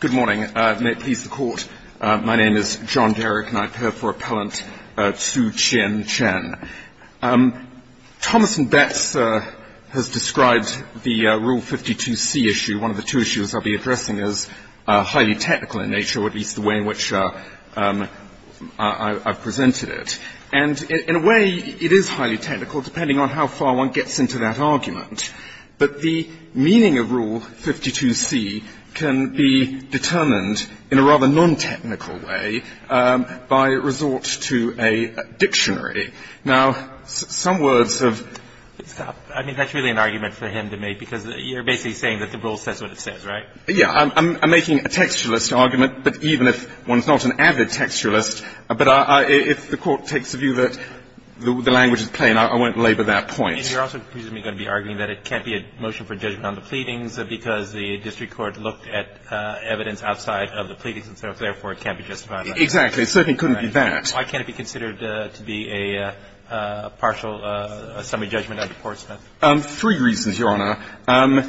Good morning. May it please the Court, my name is John Derrick and I appear for Appellant Tzu Chin Chen. Thomas and Betts has described the Rule 52C issue, one of the two issues I'll be addressing, as highly technical in nature, or at least the way in which I've presented it. And in a way, it is highly technical, depending on how far one gets determined in a rather non-technical way by resort to a dictionary. Now, some words have been stopped. I mean, that's really an argument for him to make, because you're basically saying that the Rule says what it says, right? Yeah. I'm making a textualist argument, but even if one's not an avid textualist, but if the Court takes the view that the language is plain, I won't labor that point. And you're also presumably going to be arguing that it can't be a motion for judgment on the court, that evidence outside of the pleadings and so forth, therefore it can't be justified. Exactly. It certainly couldn't be that. Why can't it be considered to be a partial, a summary judgment under Portsmouth? Three reasons, Your Honor.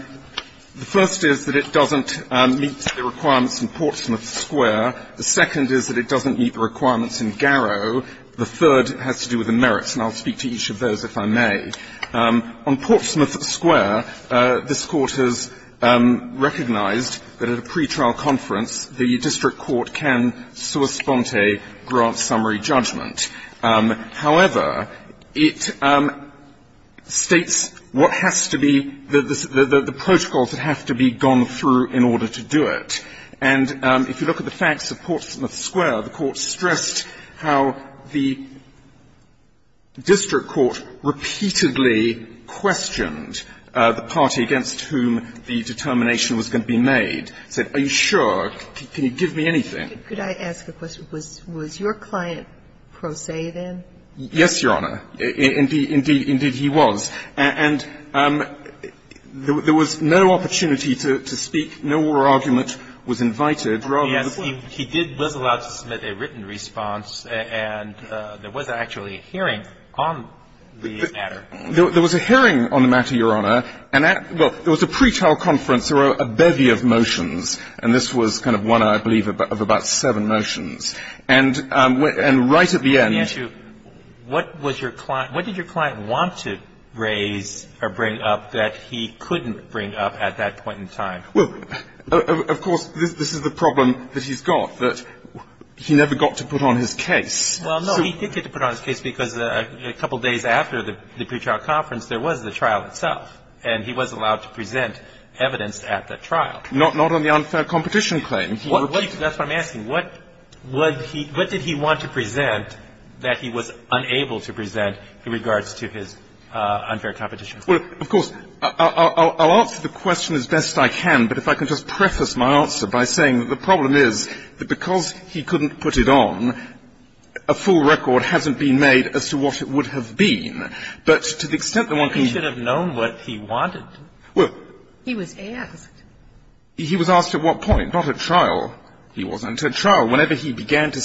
The first is that it doesn't meet the requirements in Portsmouth Square. The second is that it doesn't meet the requirements in Garrow. The third has to do with the merits, and I'll speak to each of those if I may. On Portsmouth Square, this Court has recognized that at a pretrial conference, the district court can sua sponte grant summary judgment. However, it states what has to be the protocols that have to be gone through in order to do it. And if you look at the facts of Portsmouth Square, the Court stressed how the district court repeatedly questioned the party against whom the determination was going to be made. It said, are you sure? Can you give me anything? Could I ask a question? Was your client pro se, then? Yes, Your Honor. Indeed, he was. And there was no opportunity to speak. No oral argument was invited rather than the court. Yes. He was allowed to submit a written response, and there was actually a hearing on the matter. There was a hearing on the matter, Your Honor, and that – well, it was a pretrial conference. There were a bevy of motions, and this was kind of one, I believe, of about seven motions. And right at the end – Let me ask you, what was your client – what did your client want to raise or bring up that he couldn't bring up at that point in time? Well, of course, this is the problem that he's got, that he never got to put on his case. Well, no, he did get to put on his case because a couple days after the pretrial conference, there was the trial itself, and he was allowed to present evidence at that trial. Not on the unfair competition claim. That's what I'm asking. What did he want to present that he was unable to present in regards to his unfair competition claim? Well, of course, I'll answer the question as best I can, but if I can just preface my answer by saying that the problem is that because he couldn't put it on, a full record hasn't been made as to what it would have been. But to the extent that one can – But he should have known what he wanted. Well – He was asked. He was asked at what point? Not at trial. He wasn't. At trial, whenever he began to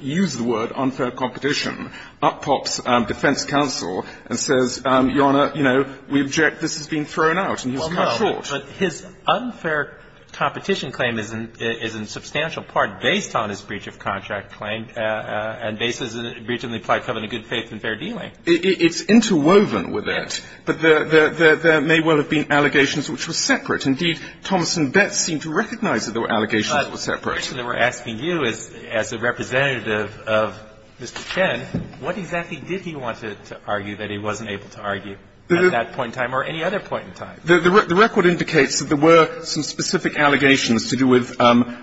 use the word unfair competition, up pops defense counsel and says, Your Honor, you know, we object, this has been thrown out, and he's cut short. But his unfair competition claim is in substantial part based on his breach of contract claim and based on his breach of the implied covenant of good faith and fair dealing. It's interwoven with that, but there may well have been allegations which were separate. Indeed, Thomas and Betz seemed to recognize that there were allegations that were separate. My question that we're asking you is, as a representative of Mr. Chen, what exactly did he want to argue that he wasn't able to argue at that point in time or any other point in time? The record indicates that there were some specific allegations to do with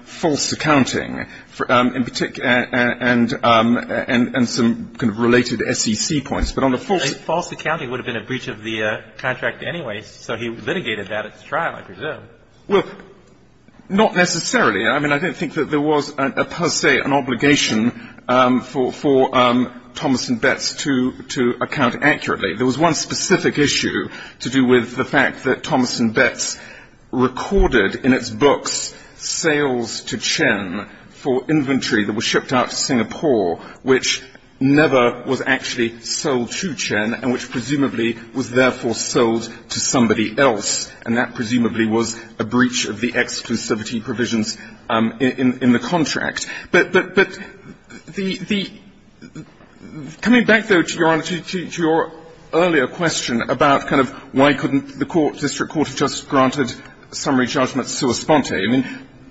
false accounting, in particular – and some kind of related SEC points. But on the false – False accounting would have been a breach of the contract anyway, so he litigated that at the trial, I presume. Well, not necessarily. I mean, I don't think that there was per se an obligation for Thomas and Betz to account accurately. There was one specific issue to do with the fact that Thomas and Betz recorded in its books sales to Chen for inventory that was shipped out to Singapore, which never was actually sold to Chen and which, presumably, was therefore sold to somebody else. And that presumably was a breach of the exclusivity provisions in the contract. But the – coming back, though, to Your Honor, to your earlier question about kind of how the court – district court had just granted summary judgment sui sponte, I mean,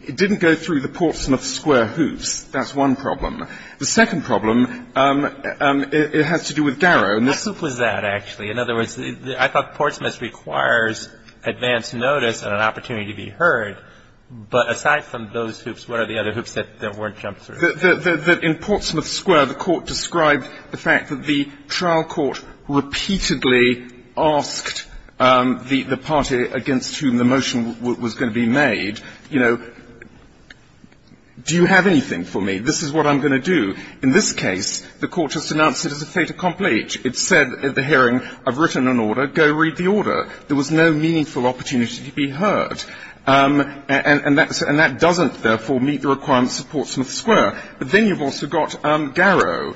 it didn't go through the Portsmouth Square hoops. That's one problem. The second problem, it has to do with Garrow. What hoop was that, actually? In other words, I thought Portsmouth requires advance notice and an opportunity to be heard, but aside from those hoops, what are the other hoops that weren't jumped through? Well, the – in Portsmouth Square, the court described the fact that the trial court repeatedly asked the party against whom the motion was going to be made, you know, do you have anything for me? This is what I'm going to do. In this case, the court just announced it as a fait accompli. It said at the hearing, I've written an order, go read the order. There was no meaningful opportunity to be heard. And that's – and that doesn't, therefore, meet the requirements of Portsmouth Square. But then you've also got Garrow.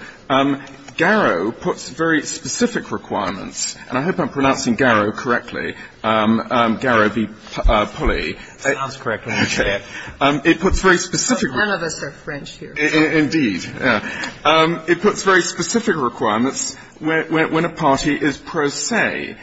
Garrow puts very specific requirements – and I hope I'm pronouncing Garrow correctly, Garrow v. Pulley. It sounds correct when you say it. It puts very specific requirements. None of us are French here. Indeed. It puts very specific requirements when a party is pro se.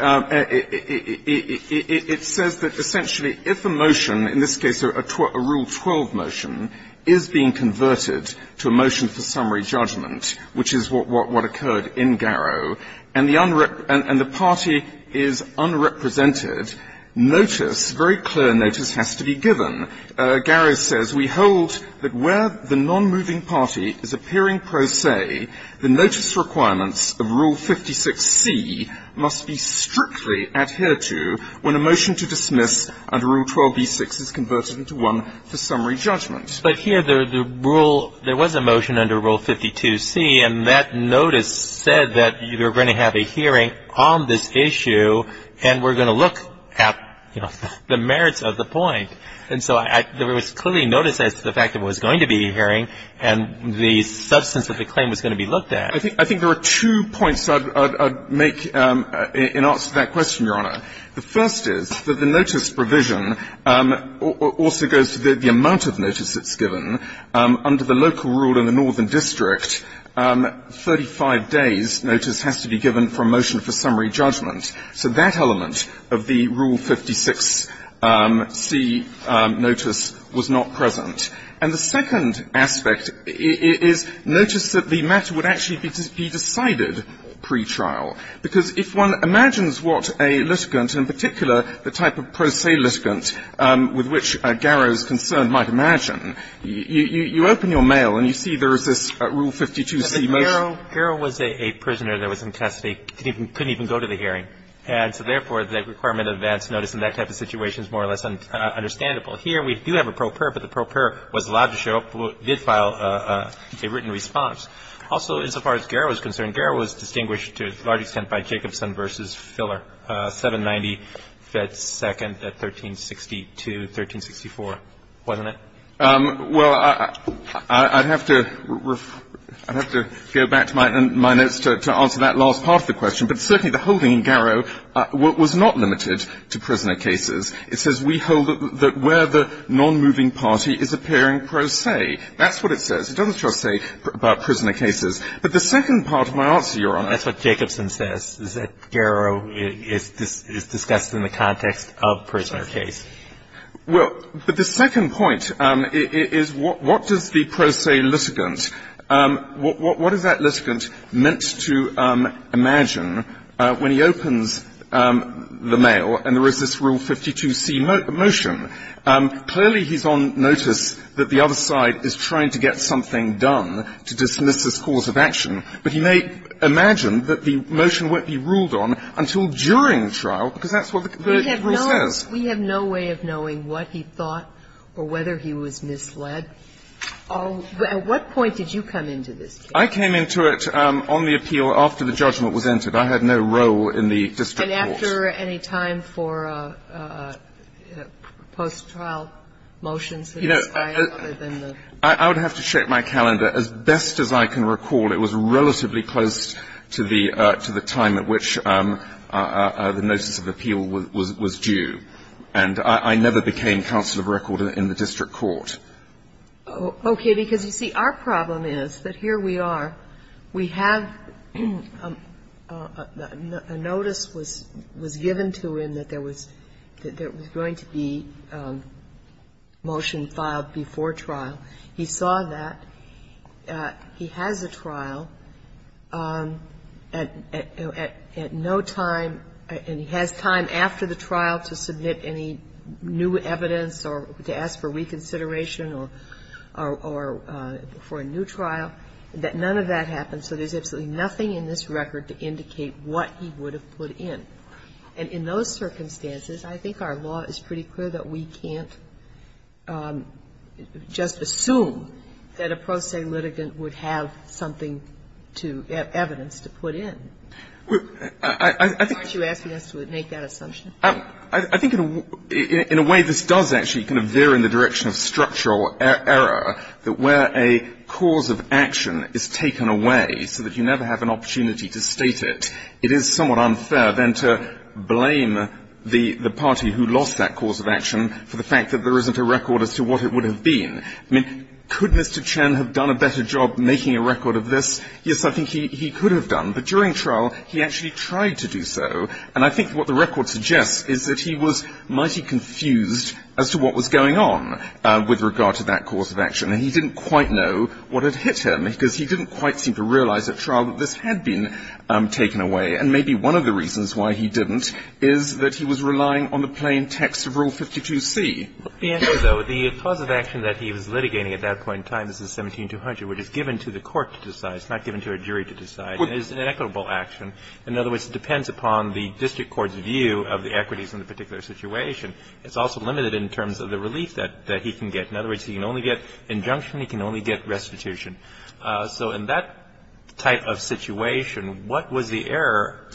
It says that essentially if a motion, in this case a Rule 12 motion, is being converted to a motion for summary judgment, which is what occurred in Garrow, and the party is unrepresented, notice, very clear notice, has to be given. Garrow says, we hold that where the non-moving party is appearing pro se, the notice requirements of Rule 56C must be strictly adhered to when a motion to dismiss under Rule 12B6 is converted into one for summary judgment. But here the rule – there was a motion under Rule 52C, and that notice said that you're going to have a hearing on this issue, and we're going to look at the merits of the point. And so there was clearly notice as to the fact that it was going to be a hearing, and the substance of the claim was going to be looked at. I think there are two points I'd make in answer to that question, Your Honor. The first is that the notice provision also goes to the amount of notice that's given. Under the local rule in the northern district, 35 days' notice has to be given for a motion for summary judgment. So that element of the Rule 56C notice was not present. And the second aspect is notice that the matter would actually become a pre-trial, and it is to be decided pre-trial. Because if one imagines what a litigant, in particular the type of pro se litigant with which Garrow is concerned might imagine, you open your mail and you see there is this Rule 52C motion. Garrow was a prisoner that was in custody, couldn't even go to the hearing. And so, therefore, the requirement of advance notice in that type of situation is more or less understandable. Here we do have a pro per, but the pro per was allowed to show up, a written response. Also, as far as Garrow is concerned, Garrow was distinguished to a large extent by Jacobson v. Filler, 790 Fed Second at 1362, 1364, wasn't it? Well, I'd have to go back to my notes to answer that last part of the question, but certainly the holding in Garrow was not limited to prisoner cases. It says we hold that where the nonmoving party is appearing pro se. That's what it says. It doesn't just say about prisoner cases. But the second part of my answer, Your Honor. That's what Jacobson says, is that Garrow is discussed in the context of prisoner case. Well, but the second point is what does the pro se litigant, what is that litigant meant to imagine when he opens the mail and there is this Rule 52C motion? Clearly, he's on notice that the other side is trying to get something done to dismiss this cause of action, but he may imagine that the motion won't be ruled on until during trial because that's what the rule says. We have no way of knowing what he thought or whether he was misled. At what point did you come into this case? I came into it on the appeal after the judgment was entered. I had no role in the district Okay. And after any time for post-trial motions that expire other than the ---- I would have to check my calendar. As best as I can recall, it was relatively close to the time at which the notice of appeal was due. And I never became counsel of record in the district court. Okay. Because, you see, our problem is that here we are. We have a notice was sent that was given to him that there was going to be motion filed before trial. He saw that. He has a trial. At no time, and he has time after the trial to submit any new evidence or to ask for reconsideration or for a new trial, that none of that happened, so there's absolutely nothing in this record to indicate what he would have put in. And in those circumstances, I think our law is pretty clear that we can't just assume that a pro se litigant would have something to ---- evidence to put in. Well, I think ---- Aren't you asking us to make that assumption? I think in a way this does actually kind of veer in the direction of structural error that where a cause of action is taken away so that you never have an opportunity to state it, it is somewhat unfair then to blame the party who lost that cause of action for the fact that there isn't a record as to what it would have been. I mean, could Mr. Chen have done a better job making a record of this? Yes, I think he could have done. But during trial, he actually tried to do so. And I think what the record suggests is that he was mighty confused as to what was going on with regard to that cause of action. And he didn't quite know what had hit him because he didn't quite seem to realize at trial that this had been taken away. And maybe one of the reasons why he didn't is that he was relying on the plain text of Rule 52c. The answer, though, the cause of action that he was litigating at that point in time is 17-200, which is given to the court to decide. It's not given to a jury to decide. It is an equitable action. In other words, it depends upon the district court's view of the equities in the particular situation. It's also limited in terms of the relief that he can get. In other words, he can only get injunction, he can only get restitution. So in that type of situation, what was the error?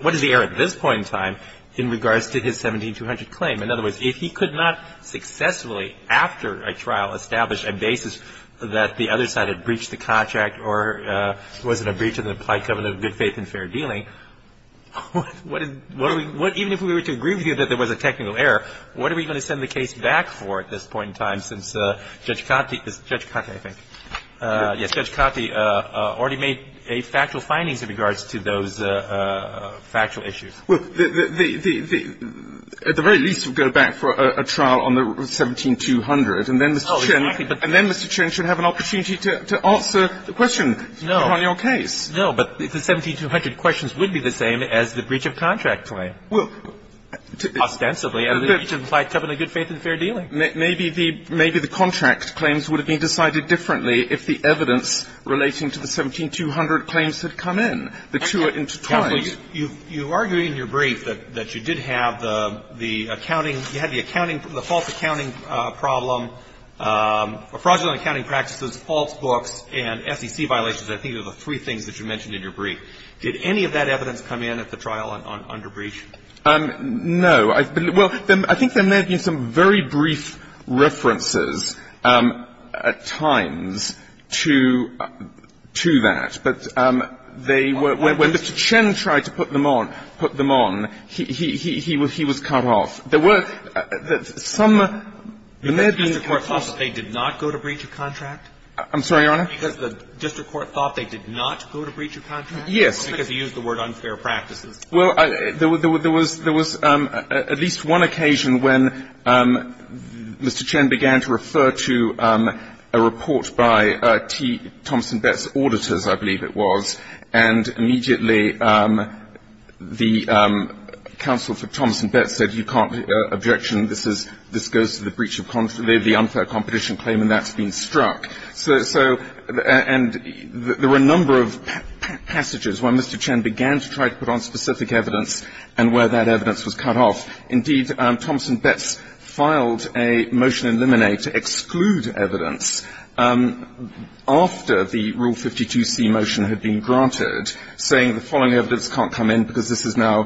What is the error at this point in time in regards to his 17-200 claim? In other words, if he could not successfully, after a trial, establish a basis that the other side had breached the Koch Act or was in a breach of the implied covenant of good faith and fair dealing, what is the – even if we were to agree with you that there was a technical error, what are we going to send the case back for at this point in time since Judge Cottie – Judge Cottie, I think. Yes, Judge Cottie already made factual findings in regards to those factual issues. Well, the – at the very least, we'll go back for a trial on the 17-200, and then Mr. Chin should have an opportunity to answer the question on your case. No, but the 17-200 questions would be the same as the breach of contract claim. Ostensibly, and the breach of implied covenant of good faith and fair dealing. Maybe the – maybe the contract claims would have been decided differently if the evidence relating to the 17-200 claims had come in. The two are intertwined. Counsel, you argue in your brief that you did have the accounting – you had the accounting – the false accounting problem – fraudulent accounting practices, false books, and SEC violations. I think those are the three things that you mentioned in your brief. Did any of that evidence come in at the trial on – under breach? No. I – well, I think there may have been some very brief references at times to – to that, but they were – when Mr. Chin tried to put them on – put them on, he was cut off. There were some – Because the district court thought they did not go to breach of contract? I'm sorry, Your Honor? Because the district court thought they did not go to breach of contract? Yes. Because he used the word unfair practices. Well, there was – there was at least one occasion when Mr. Chin began to refer to a report by T. Thomson Betts Auditors, I believe it was, and immediately the – the counsel for Thomson Betts said, you can't – objection, this is – this goes to the breach of – the unfair competition claim, and that's been struck. So – so – and there were a number of passages when Mr. Chin began to try to put on specific evidence and where that evidence was cut off. Indeed, Thomson Betts filed a motion in limine to exclude evidence after the Rule 52c motion had been granted, saying the following evidence can't come in because this is now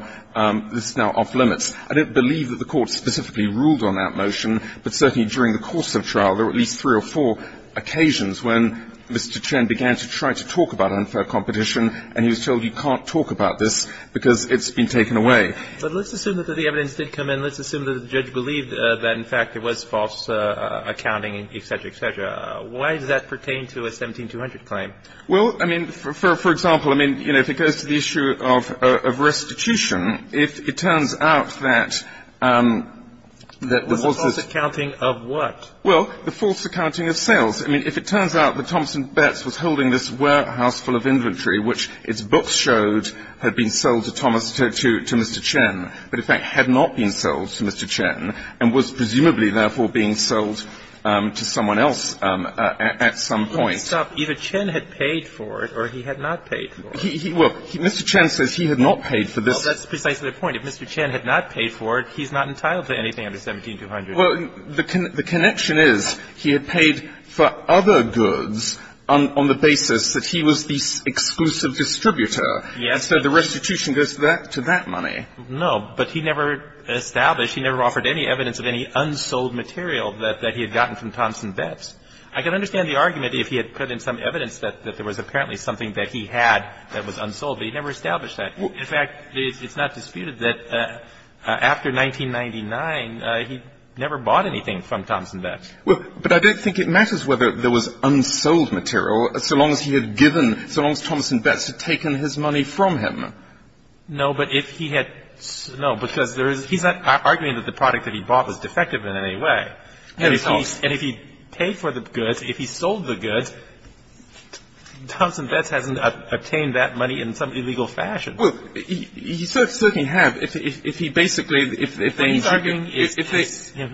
– this is now off limits. I don't believe that the court specifically ruled on that motion, but certainly during the course of trial, there were at least three or four occasions when Mr. Chin began to try to talk about unfair competition, and he was told, you can't talk about this because it's been taken away. But let's assume that the evidence did come in. Let's assume that the judge believed that, in fact, it was false accounting, et cetera, et cetera. Why does that pertain to a 17200 claim? Well, I mean, for example, I mean, you know, if it goes to the issue of restitution, if it turns out that – that the false – The false accounting of what? Well, the false accounting of sales. I mean, if it turns out that Thomson Betts was holding this warehouse full of inventory, which its books showed had been sold to Thomas – to Mr. Chin, but, in fact, had not been sold to Mr. Chin, and was presumably, therefore, being sold to someone else at some point. Well, I mean, if you stop, either Chin had paid for it or he had not paid for it. He – well, Mr. Chin says he had not paid for this. Well, that's precisely the point. If Mr. Chin had not paid for it, he's not entitled to anything under 17200. Well, the connection is he had paid for other goods on the basis that he was the exclusive distributor, and so the restitution goes to that money. No, but he never established – he never offered any evidence of any unsold material that he had gotten from Thomson Betts. I can understand the argument if he had put in some evidence that there was apparently something that he had that was unsold, but he never established that. In fact, it's not disputed that after 1999, he never bought anything from Thomson Betts. Well, but I don't think it matters whether there was unsold material so long as he had given – so long as Thomson Betts had taken his money from him. No, but if he had – no, because there is – he's not arguing that the product that he bought was defective in any way. No, it's not. And if he paid for the goods, if he sold the goods, Thomson Betts hasn't obtained that money in some illegal fashion. Well, he certainly have. If he basically – if they – What he's arguing is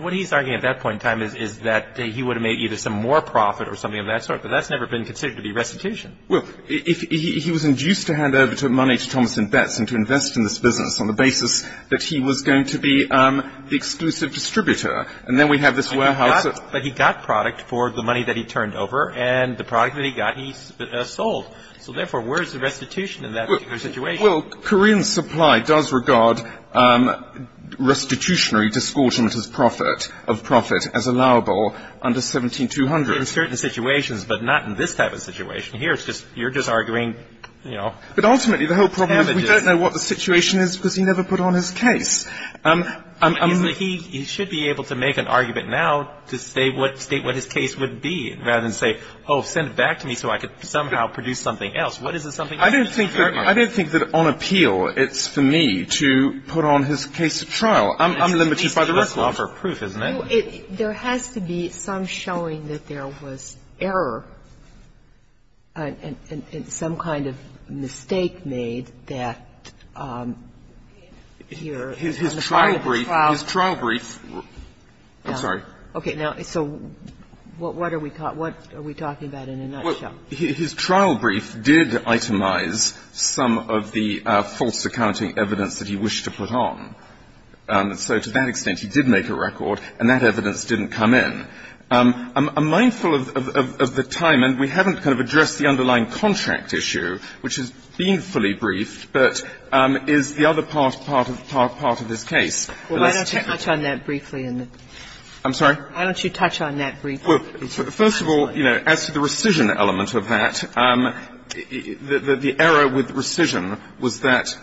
– what he's arguing at that point in time is that he would have made either some more profit or something of that sort, but that's never been considered to be restitution. Well, if he was induced to hand over money to Thomson Betts and to invest in this business on the basis that he was going to be the exclusive distributor, and then we have this warehouse that – But he got product for the money that he turned over, and the product that he got, he sold. So therefore, where is the restitution in that particular situation? Well, Korean supply does regard restitutionary discordant as profit – of profit as allowable under 17-200. In certain situations, but not in this type of situation. Here, it's just – you're just arguing, you know, damages. But ultimately, the whole problem is we don't know what the situation is because he never put on his case. He should be able to make an argument now to say what – state what his case would be, rather than say, oh, send it back to me so I could somehow produce something else. What is the something else? I don't think that – I don't think that on appeal, it's for me to put on his case of trial. I'm limited by the record. It's just law for proof, isn't it? There has to be some showing that there was error, some kind of mistake made that here on the part of the trial. His trial brief – his trial brief – I'm sorry. Okay. Now, so what are we – what are we talking about in a nutshell? Well, his trial brief did itemize some of the false accounting evidence that he wished to put on. So to that extent, he did make a record, and that evidence didn't come in. I'm mindful of the time, and we haven't kind of addressed the underlying contract issue, which has been fully briefed, but is the other part of his case. Alitos. Why don't you touch on that briefly? I'm sorry? Why don't you touch on that briefly? Well, first of all, you know, as to the rescission element of that, the error with the rescission was that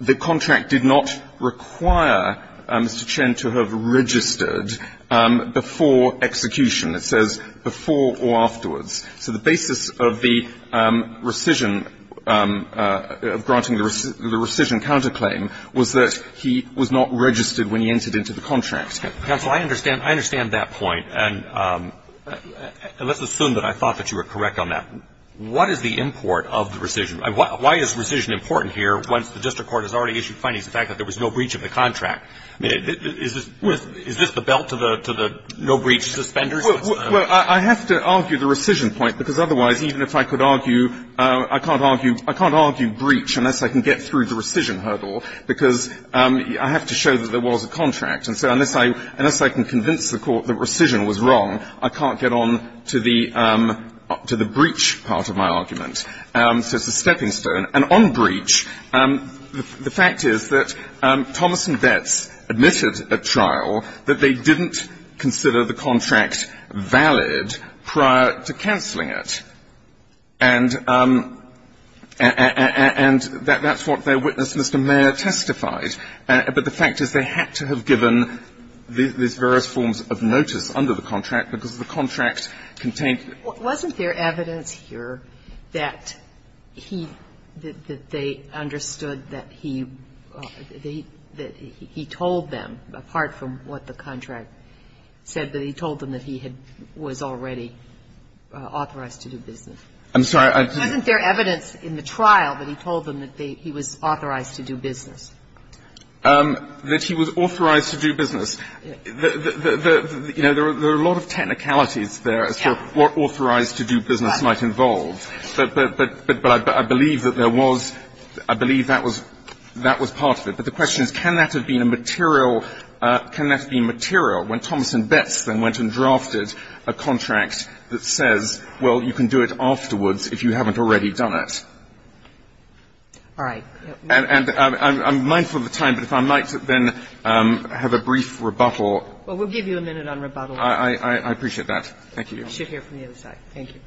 the contract did not require Mr. Chen to have registered before execution. It says before or afterwards. So the basis of the rescission, of granting the rescission counterclaim, was that he was not registered when he entered into the contract. Counsel, I understand – I understand that point, and let's assume that I thought that you were correct on that. What is the import of the rescission? Why is rescission important here, once the district court has already issued findings of the fact that there was no breach of the contract? Is this the belt to the no-breach suspenders? Well, I have to argue the rescission point, because otherwise, even if I could argue – I can't argue – I can't argue breach unless I can get through the rescission hurdle, because I have to show that there was a contract. And so unless I can convince the Court that rescission was wrong, I can't get on to the – to the breach part of my argument. So it's a stepping stone. And on breach, the fact is that Thomas and Betts admitted at trial that they didn't consider the contract valid prior to canceling it. And that's what their witness, Mr. Mayer, testified. But the fact is they had to have given these various forms of notice under the contract, because the contract contained – Sotomayor, wasn't there evidence here that he – that they understood that he – that he told them, apart from what the contract said, that he told them that he had – was already authorized to do business? I'm sorry, I didn't – Wasn't there evidence in the trial that he told them that he was authorized to do business? That he was authorized to do business. You know, there are a lot of technicalities there as to what authorized to do business might involve. But I believe that there was – I believe that was – that was part of it. But the question is, can that have been a material – can that have been material when Thomas and Betts then went and drafted a contract that says, well, you can do it afterwards if you haven't already done it? All right. And I'm mindful of the time, but if I might then have a brief rebuttal. Well, we'll give you a minute on rebuttal. I appreciate that. Thank you. I should hear from the other side. Thank you.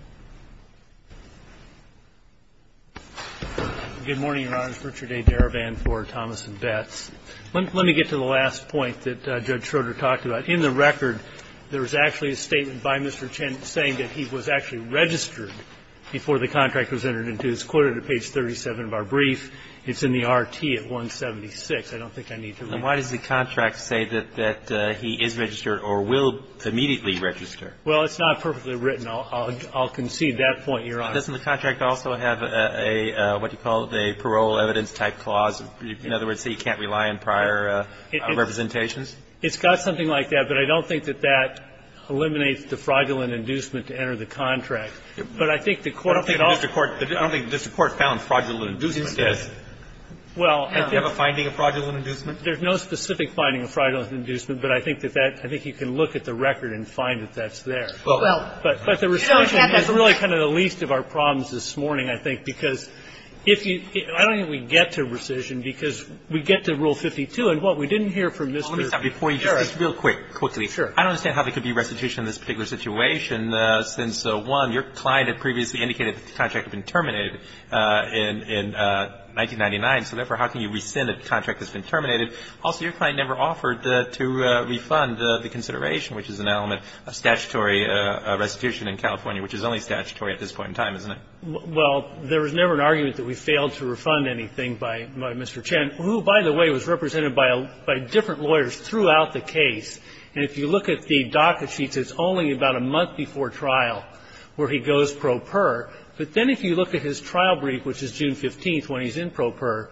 Good morning, Your Honors. Richard A. Darabin for Thomas and Betts. Let me get to the last point that Judge Schroeder talked about. In the record, there was actually a statement by Mr. Chen saying that he was actually registered before the contract was entered into. It's quoted at page 37 of our brief. It's in the R.T. at 176. I don't think I need to read that. And why does the contract say that he is registered or will immediately register? Well, it's not perfectly written. I'll concede that point, Your Honor. Doesn't the contract also have a – what do you call it? A parole evidence-type clause? In other words, he can't rely on prior representations? It's got something like that, but I don't think that that eliminates the fraudulent inducement to enter the contract. But I think the court could also – Well, I don't think the court found fraudulent inducement. Yes, it does. Well – Do you have a finding of fraudulent inducement? There's no specific finding of fraudulent inducement, but I think that that – I think you can look at the record and find that that's there. Well – But the rescission is really kind of the least of our problems this morning, I think, because if you – I don't think we get to rescission because we get to Rule 52. And what? We didn't hear from Mr. – Let me stop you before you do, just real quick, quickly. Sure. I don't understand how there could be rescission in this particular situation since, one, your client had previously indicated that the contract had been terminated in 1999, so therefore, how can you rescind a contract that's been terminated? Also, your client never offered to refund the consideration, which is an element of statutory restitution in California, which is only statutory at this point in time, isn't it? Well, there was never an argument that we failed to refund anything by Mr. Chen, who, by the way, was represented by different lawyers throughout the case. And if you look at the docket sheets, it's only about a month before trial where he goes pro per, but then if you look at his trial brief, which is June 15th, when he's in pro per,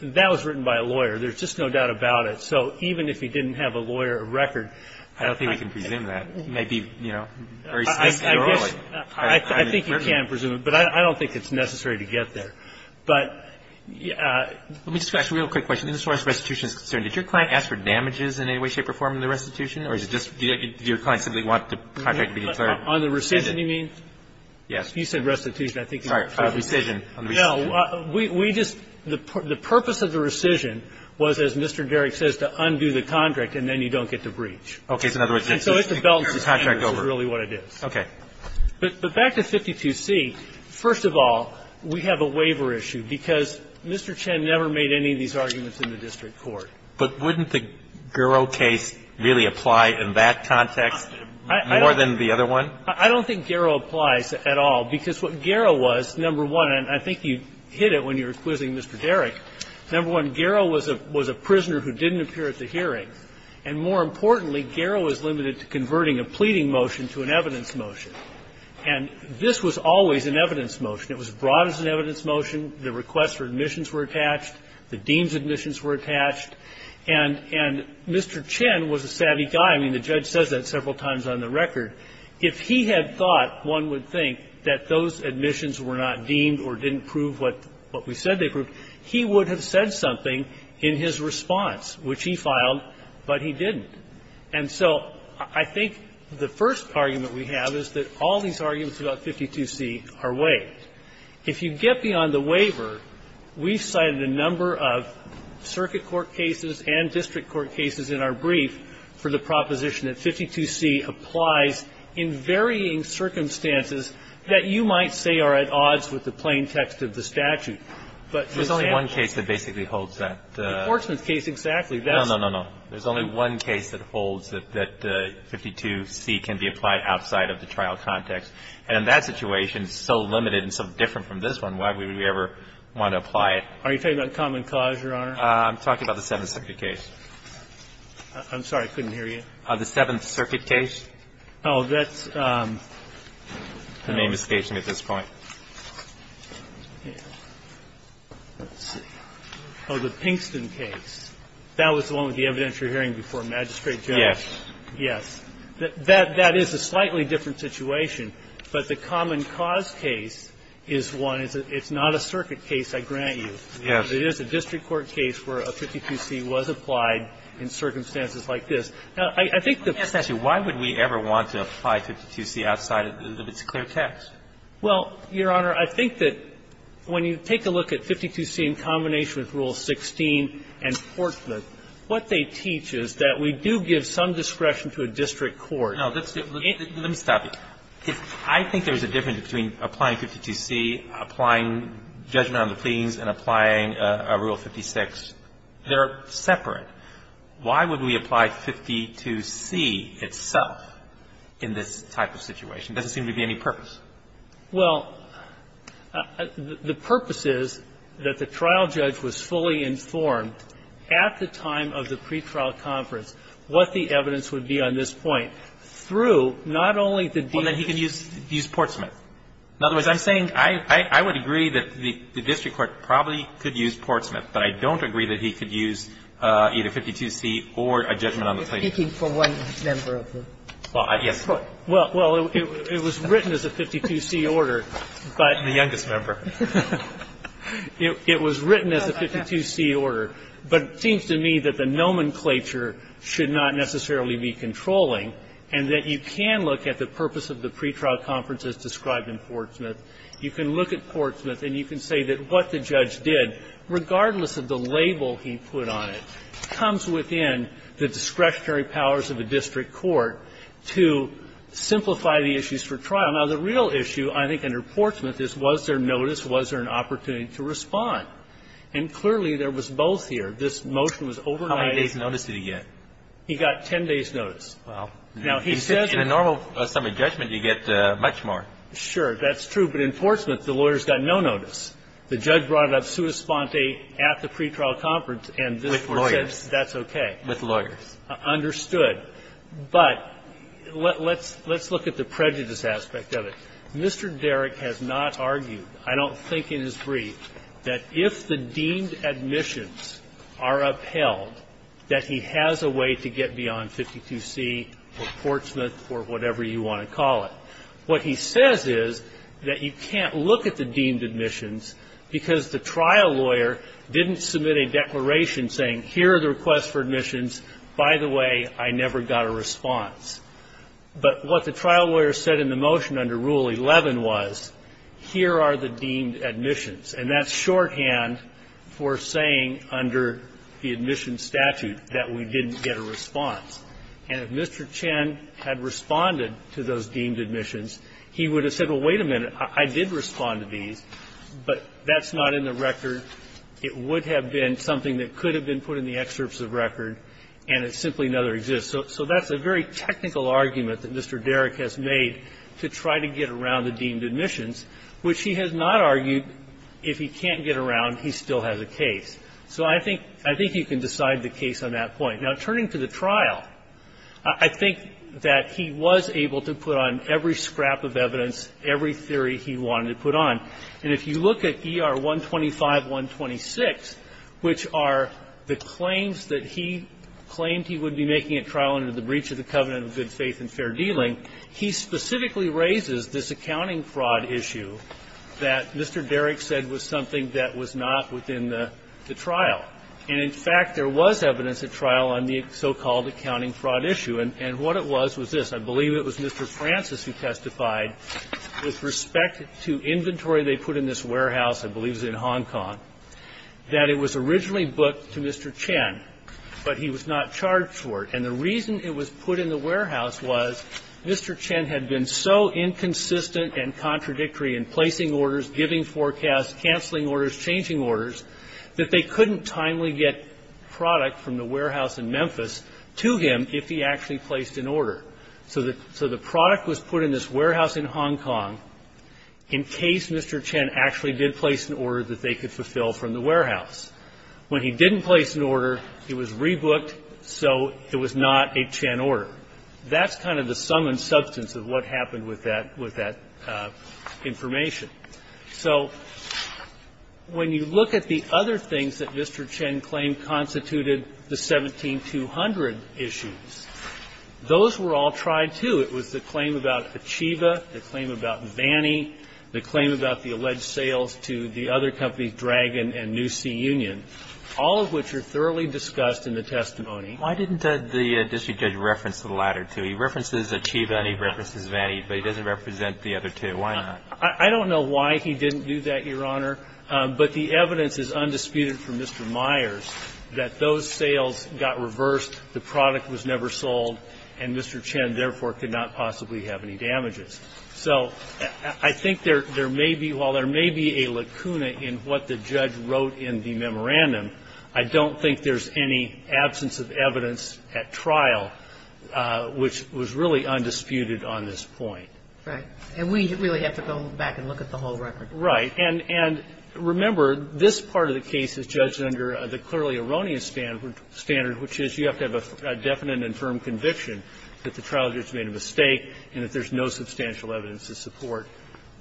that was written by a lawyer. There's just no doubt about it. So even if he didn't have a lawyer or record – I don't think we can presume that. It might be, you know, very – I guess – I think you can presume it, but I don't think it's necessary to get there. But – Let me just ask you a real quick question. As far as restitution is concerned, did your client ask for damages in any way, shape, form, in the restitution? Or is it just – did your client simply want the contract to be declared? On the rescission, you mean? Yes. You said restitution. I think you meant – Sorry. On the rescission. No. We just – the purpose of the rescission was, as Mr. Derrick says, to undo the contract and then you don't get the breach. Okay. So in other words, it's just – And so it's the belt and the handers is really what it is. Okay. But back to 52C, first of all, we have a waiver issue, because Mr. Chen never made any of these arguments in the district court. But wouldn't the Garrow case really apply in that context more than the other one? I don't think Garrow applies at all, because what Garrow was, number one – and I think you hit it when you were quizzing Mr. Derrick – number one, Garrow was a prisoner who didn't appear at the hearing. And more importantly, Garrow was limited to converting a pleading motion to an evidence motion. And this was always an evidence motion. It was brought as an evidence motion. The requests for admissions were attached. The deems admissions were attached. And Mr. Chen was a savvy guy. I mean, the judge says that several times on the record. If he had thought, one would think, that those admissions were not deemed or didn't prove what we said they proved, he would have said something in his response, which he filed, but he didn't. And so I think the first argument we have is that all these arguments about 52C are waived. If you get beyond the waiver, we've cited a number of circuit court cases and district court cases in our brief for the proposition that 52C applies in varying circumstances that you might say are at odds with the plain text of the statute. But for example – There's only one case that basically holds that. The Orsman case, exactly. No, no, no, no. There's only one case that holds that 52C can be applied outside of the trial context. And that situation is so limited and so different from this one, why would we ever want to apply it? Are you talking about common cause, Your Honor? I'm talking about the Seventh Circuit case. I'm sorry. I couldn't hear you. The Seventh Circuit case. Oh, that's – The name is stationed at this point. Oh, the Pinkston case. That was the one with the evidentiary hearing before magistrate judge. Yes. Yes. That is a slightly different situation. But the common cause case is one. It's not a circuit case, I grant you. Yes. It is a district court case where a 52C was applied in circumstances like this. Now, I think the – Let me ask you, why would we ever want to apply 52C outside of its clear text? Well, Your Honor, I think that when you take a look at 52C in combination with Rule 16 and Portman, what they teach is that we do give some discretion to a district court. No, let's do – let me stop you. I think there's a difference between applying 52C, applying judgment on the pleadings, and applying a Rule 56. They're separate. Why would we apply 52C itself in this type of situation? There doesn't seem to be any purpose. Well, the purpose is that the trial judge was fully informed at the time of the pretrial conference what the evidence would be on this point through not only the – Well, then he could use – use Portsmouth. In other words, I'm saying I would agree that the district court probably could use Portsmouth, but I don't agree that he could use either 52C or a judgment on the plaintiff. You're speaking for one member of the court. Well, it was written as a 52C order, but – The youngest member. It was written as a 52C order, but it seems to me that the nomenclature should not necessarily be controlling, and that you can look at the purpose of the pretrial conference as described in Portsmouth. You can look at Portsmouth, and you can say that what the judge did, regardless of the label he put on it, comes within the discretionary powers of a district court to simplify the issues for trial. Now, the real issue, I think, under Portsmouth is was there notice, was there an opportunity to respond? And clearly, there was both here. This motion was overnight. How many days' notice did he get? He got 10 days' notice. Well, in a normal summary judgment, you get much more. Sure. That's true. But in Portsmouth, the lawyers got no notice. The judge brought it up sua sponte at the pretrial conference, and this was said. With lawyers. That's okay. With lawyers. Understood. But let's look at the prejudice aspect of it. Mr. Derrick has not argued, I don't think in his brief, that if the deemed admissions are upheld, that he has a way to get beyond 52C or Portsmouth or whatever you want to call it. What he says is that you can't look at the deemed admissions because the trial lawyer didn't submit a declaration saying, here are the requests for admissions. By the way, I never got a response. But what the trial lawyer said in the motion under Rule 11 was, here are the deemed admissions. And that's shorthand for saying under the admissions statute that we didn't get a response. And if Mr. Chen had responded to those deemed admissions, he would have said, well, wait a minute, I did respond to these, but that's not in the record. It would have been something that could have been put in the excerpts of record, and it simply never exists. So that's a very technical argument that Mr. Derrick has made to try to get around the deemed admissions, which he has not argued, if he can't get around, he still has a case. So I think you can decide the case on that point. Now, turning to the trial, I think that he was able to put on every scrap of evidence, every theory he wanted to put on. And if you look at ER 125-126, which are the claims that he claimed he would be making a trial under the breach of the covenant of good faith and fair dealing, he specifically raises this accounting fraud issue that Mr. Derrick said was something that was not within the trial. And, in fact, there was evidence at trial on the so-called accounting fraud issue. And what it was, was this. I believe it was Mr. Francis who testified with respect to inventory they put in this warehouse, I believe it was in Hong Kong, that it was originally booked to Mr. Chen, but he was not charged for it. And the reason it was put in the warehouse was Mr. Chen had been so inconsistent and contradictory in placing orders, giving forecasts, canceling orders, changing orders, that they couldn't timely get product from the warehouse in Memphis to him if he actually placed an order. So the product was put in this warehouse in Hong Kong in case Mr. Chen actually When he didn't place an order, it was rebooked, so it was not a Chen order. That's kind of the sum and substance of what happened with that information. So when you look at the other things that Mr. Chen claimed constituted the 17-200 issues, those were all tried, too. It was the claim about Achieva, the claim about Vannie, the claim about the alleged sales to the other companies, Dragon and New Sea Union, all of which are thoroughly discussed in the testimony. Why didn't the district judge reference the latter two? He references Achieva and he references Vannie, but he doesn't represent the other two. Why not? I don't know why he didn't do that, Your Honor, but the evidence is undisputed from Mr. Myers that those sales got reversed, the product was never sold, and Mr. Chen, therefore, could not possibly have any damages. So I think there may be – while there may be a lacuna in what the judge wrote in the memorandum, I don't think there's any absence of evidence at trial which was really undisputed on this point. Right. And we really have to go back and look at the whole record. Right. And remember, this part of the case is judged under the clearly erroneous standard, which is you have to have a definite and firm conviction that the trial judge made a mistake and that there's no substantial evidence to support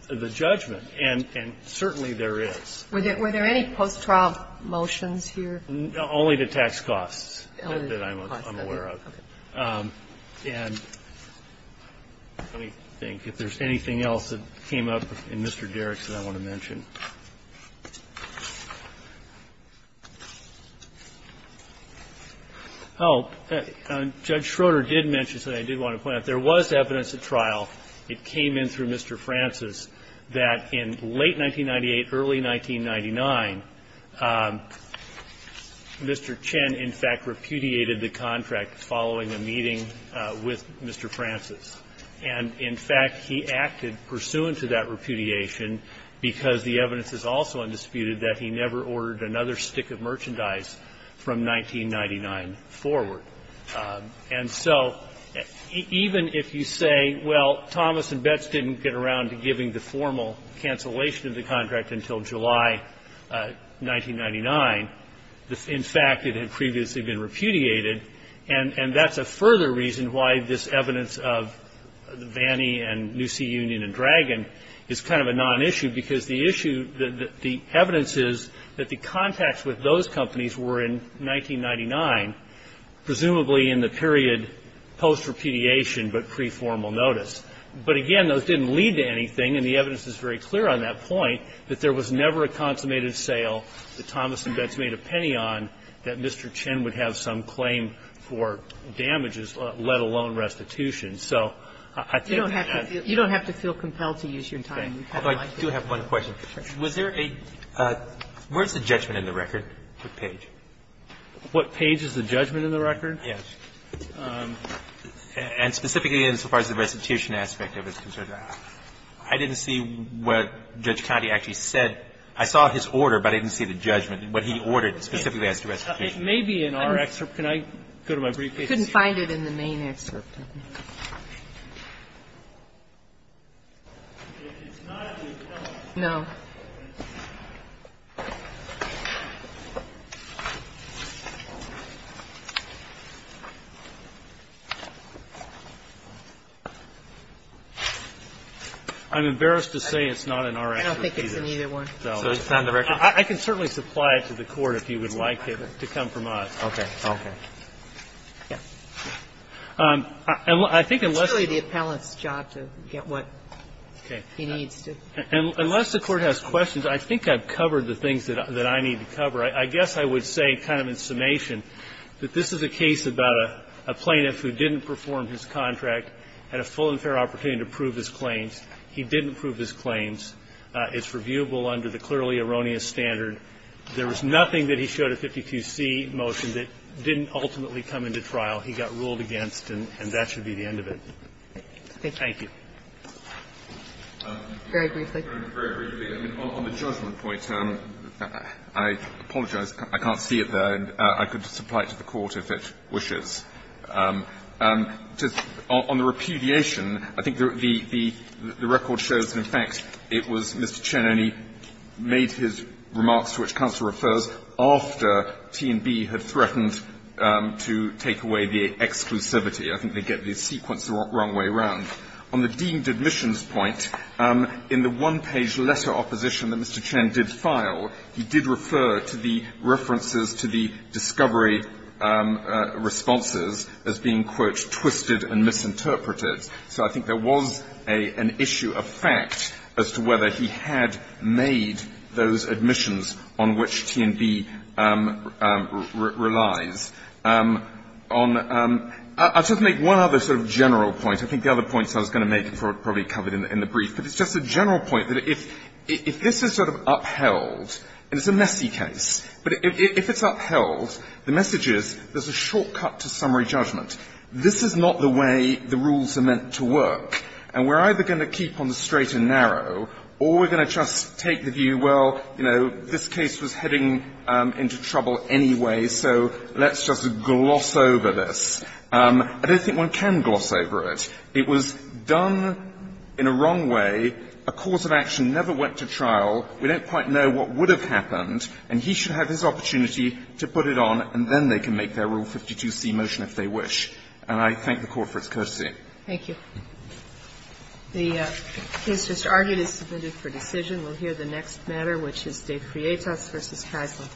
the judgment. And certainly there is. Were there any post-trial motions here? Only the tax costs that I'm aware of. Okay. And let me think if there's anything else that came up in Mr. Derrick's that I want to mention. If there was evidence at trial, it came in through Mr. Francis, that in late 1998, early 1999, Mr. Chen, in fact, repudiated the contract following a meeting with Mr. Francis. And, in fact, he acted pursuant to that repudiation because the evidence is also undisputed that he never ordered another stick of merchandise from 1999 forward. And so even if you say, well, Thomas and Betts didn't get around to giving the formal cancellation of the contract until July 1999, in fact, it had previously been repudiated. And that's a further reason why this evidence of the Vanny and New Sea Union and Dragon is kind of a nonissue, because the issue, the evidence is that the contacts with those companies were in 1999, presumably in the period post-repudiation but pre-formal notice. But, again, those didn't lead to anything, and the evidence is very clear on that point, that there was never a consummated sale that Thomas and Betts made a penny on that Mr. Chen would have some claim for damages, let alone restitution. So I think that that's the case. You don't have to feel compelled to use your time. I do have one question. Was there a – where's the judgment in the record, the page? What page is the judgment in the record? Yes. And specifically as far as the restitution aspect of it is concerned, I didn't see what Judge Cotty actually said. I saw his order, but I didn't see the judgment, what he ordered specifically as to restitution. It may be in our excerpt. Can I go to my briefcase? I couldn't find it in the main excerpt. I'm embarrassed to say it's not in our excerpt either. I don't think it's in either one. So it's not in the record? I can certainly supply it to the Court if you would like it to come from us. Okay. Okay. It's really the appellant's job to get what he needs to. Unless the Court has questions, I think I've covered the things that I need to cover. I guess I would say kind of in summation that this is a case about a plaintiff who didn't perform his contract, had a full and fair opportunity to prove his claims. He didn't prove his claims. It's reviewable under the clearly erroneous standard. There was nothing that he showed at 52C motion that didn't ultimately come into trial. He got ruled against, and that should be the end of it. Thank you. Very briefly. Very briefly. On the judgment point, I apologize. I can't see it there. I could supply it to the Court if it wishes. On the repudiation, I think the record shows that, in fact, it was Mr. Chen only made his remarks to which counsel refers after T&B had threatened to take away the exclusivity. I think they get the sequence the wrong way around. On the deemed admissions point, in the one-page letter opposition that Mr. Chen did file, he did refer to the references to the discovery responses as being, quote, twisted and misinterpreted. So I think there was an issue, a fact, as to whether he had made those admissions on which T&B relies. I'll just make one other sort of general point. I think the other points I was going to make were probably covered in the brief. But it's just a general point that if this is sort of upheld, and it's a messy case, but if it's upheld, the message is there's a shortcut to summary judgment. This is not the way the rules are meant to work. And we're either going to keep on the straight and narrow, or we're going to just take the view, well, you know, this case was heading into trouble anyway, so let's just gloss over this. I don't think one can gloss over it. It was done in a wrong way. A cause of action never went to trial. We don't quite know what would have happened. And he should have his opportunity to put it on, and then they can make their Rule 152C motion if they wish. And I thank the Court for its courtesy. Thank you. The case just argued is submitted for decision. We'll hear the next matter, which is De Prietas v. Kaisler.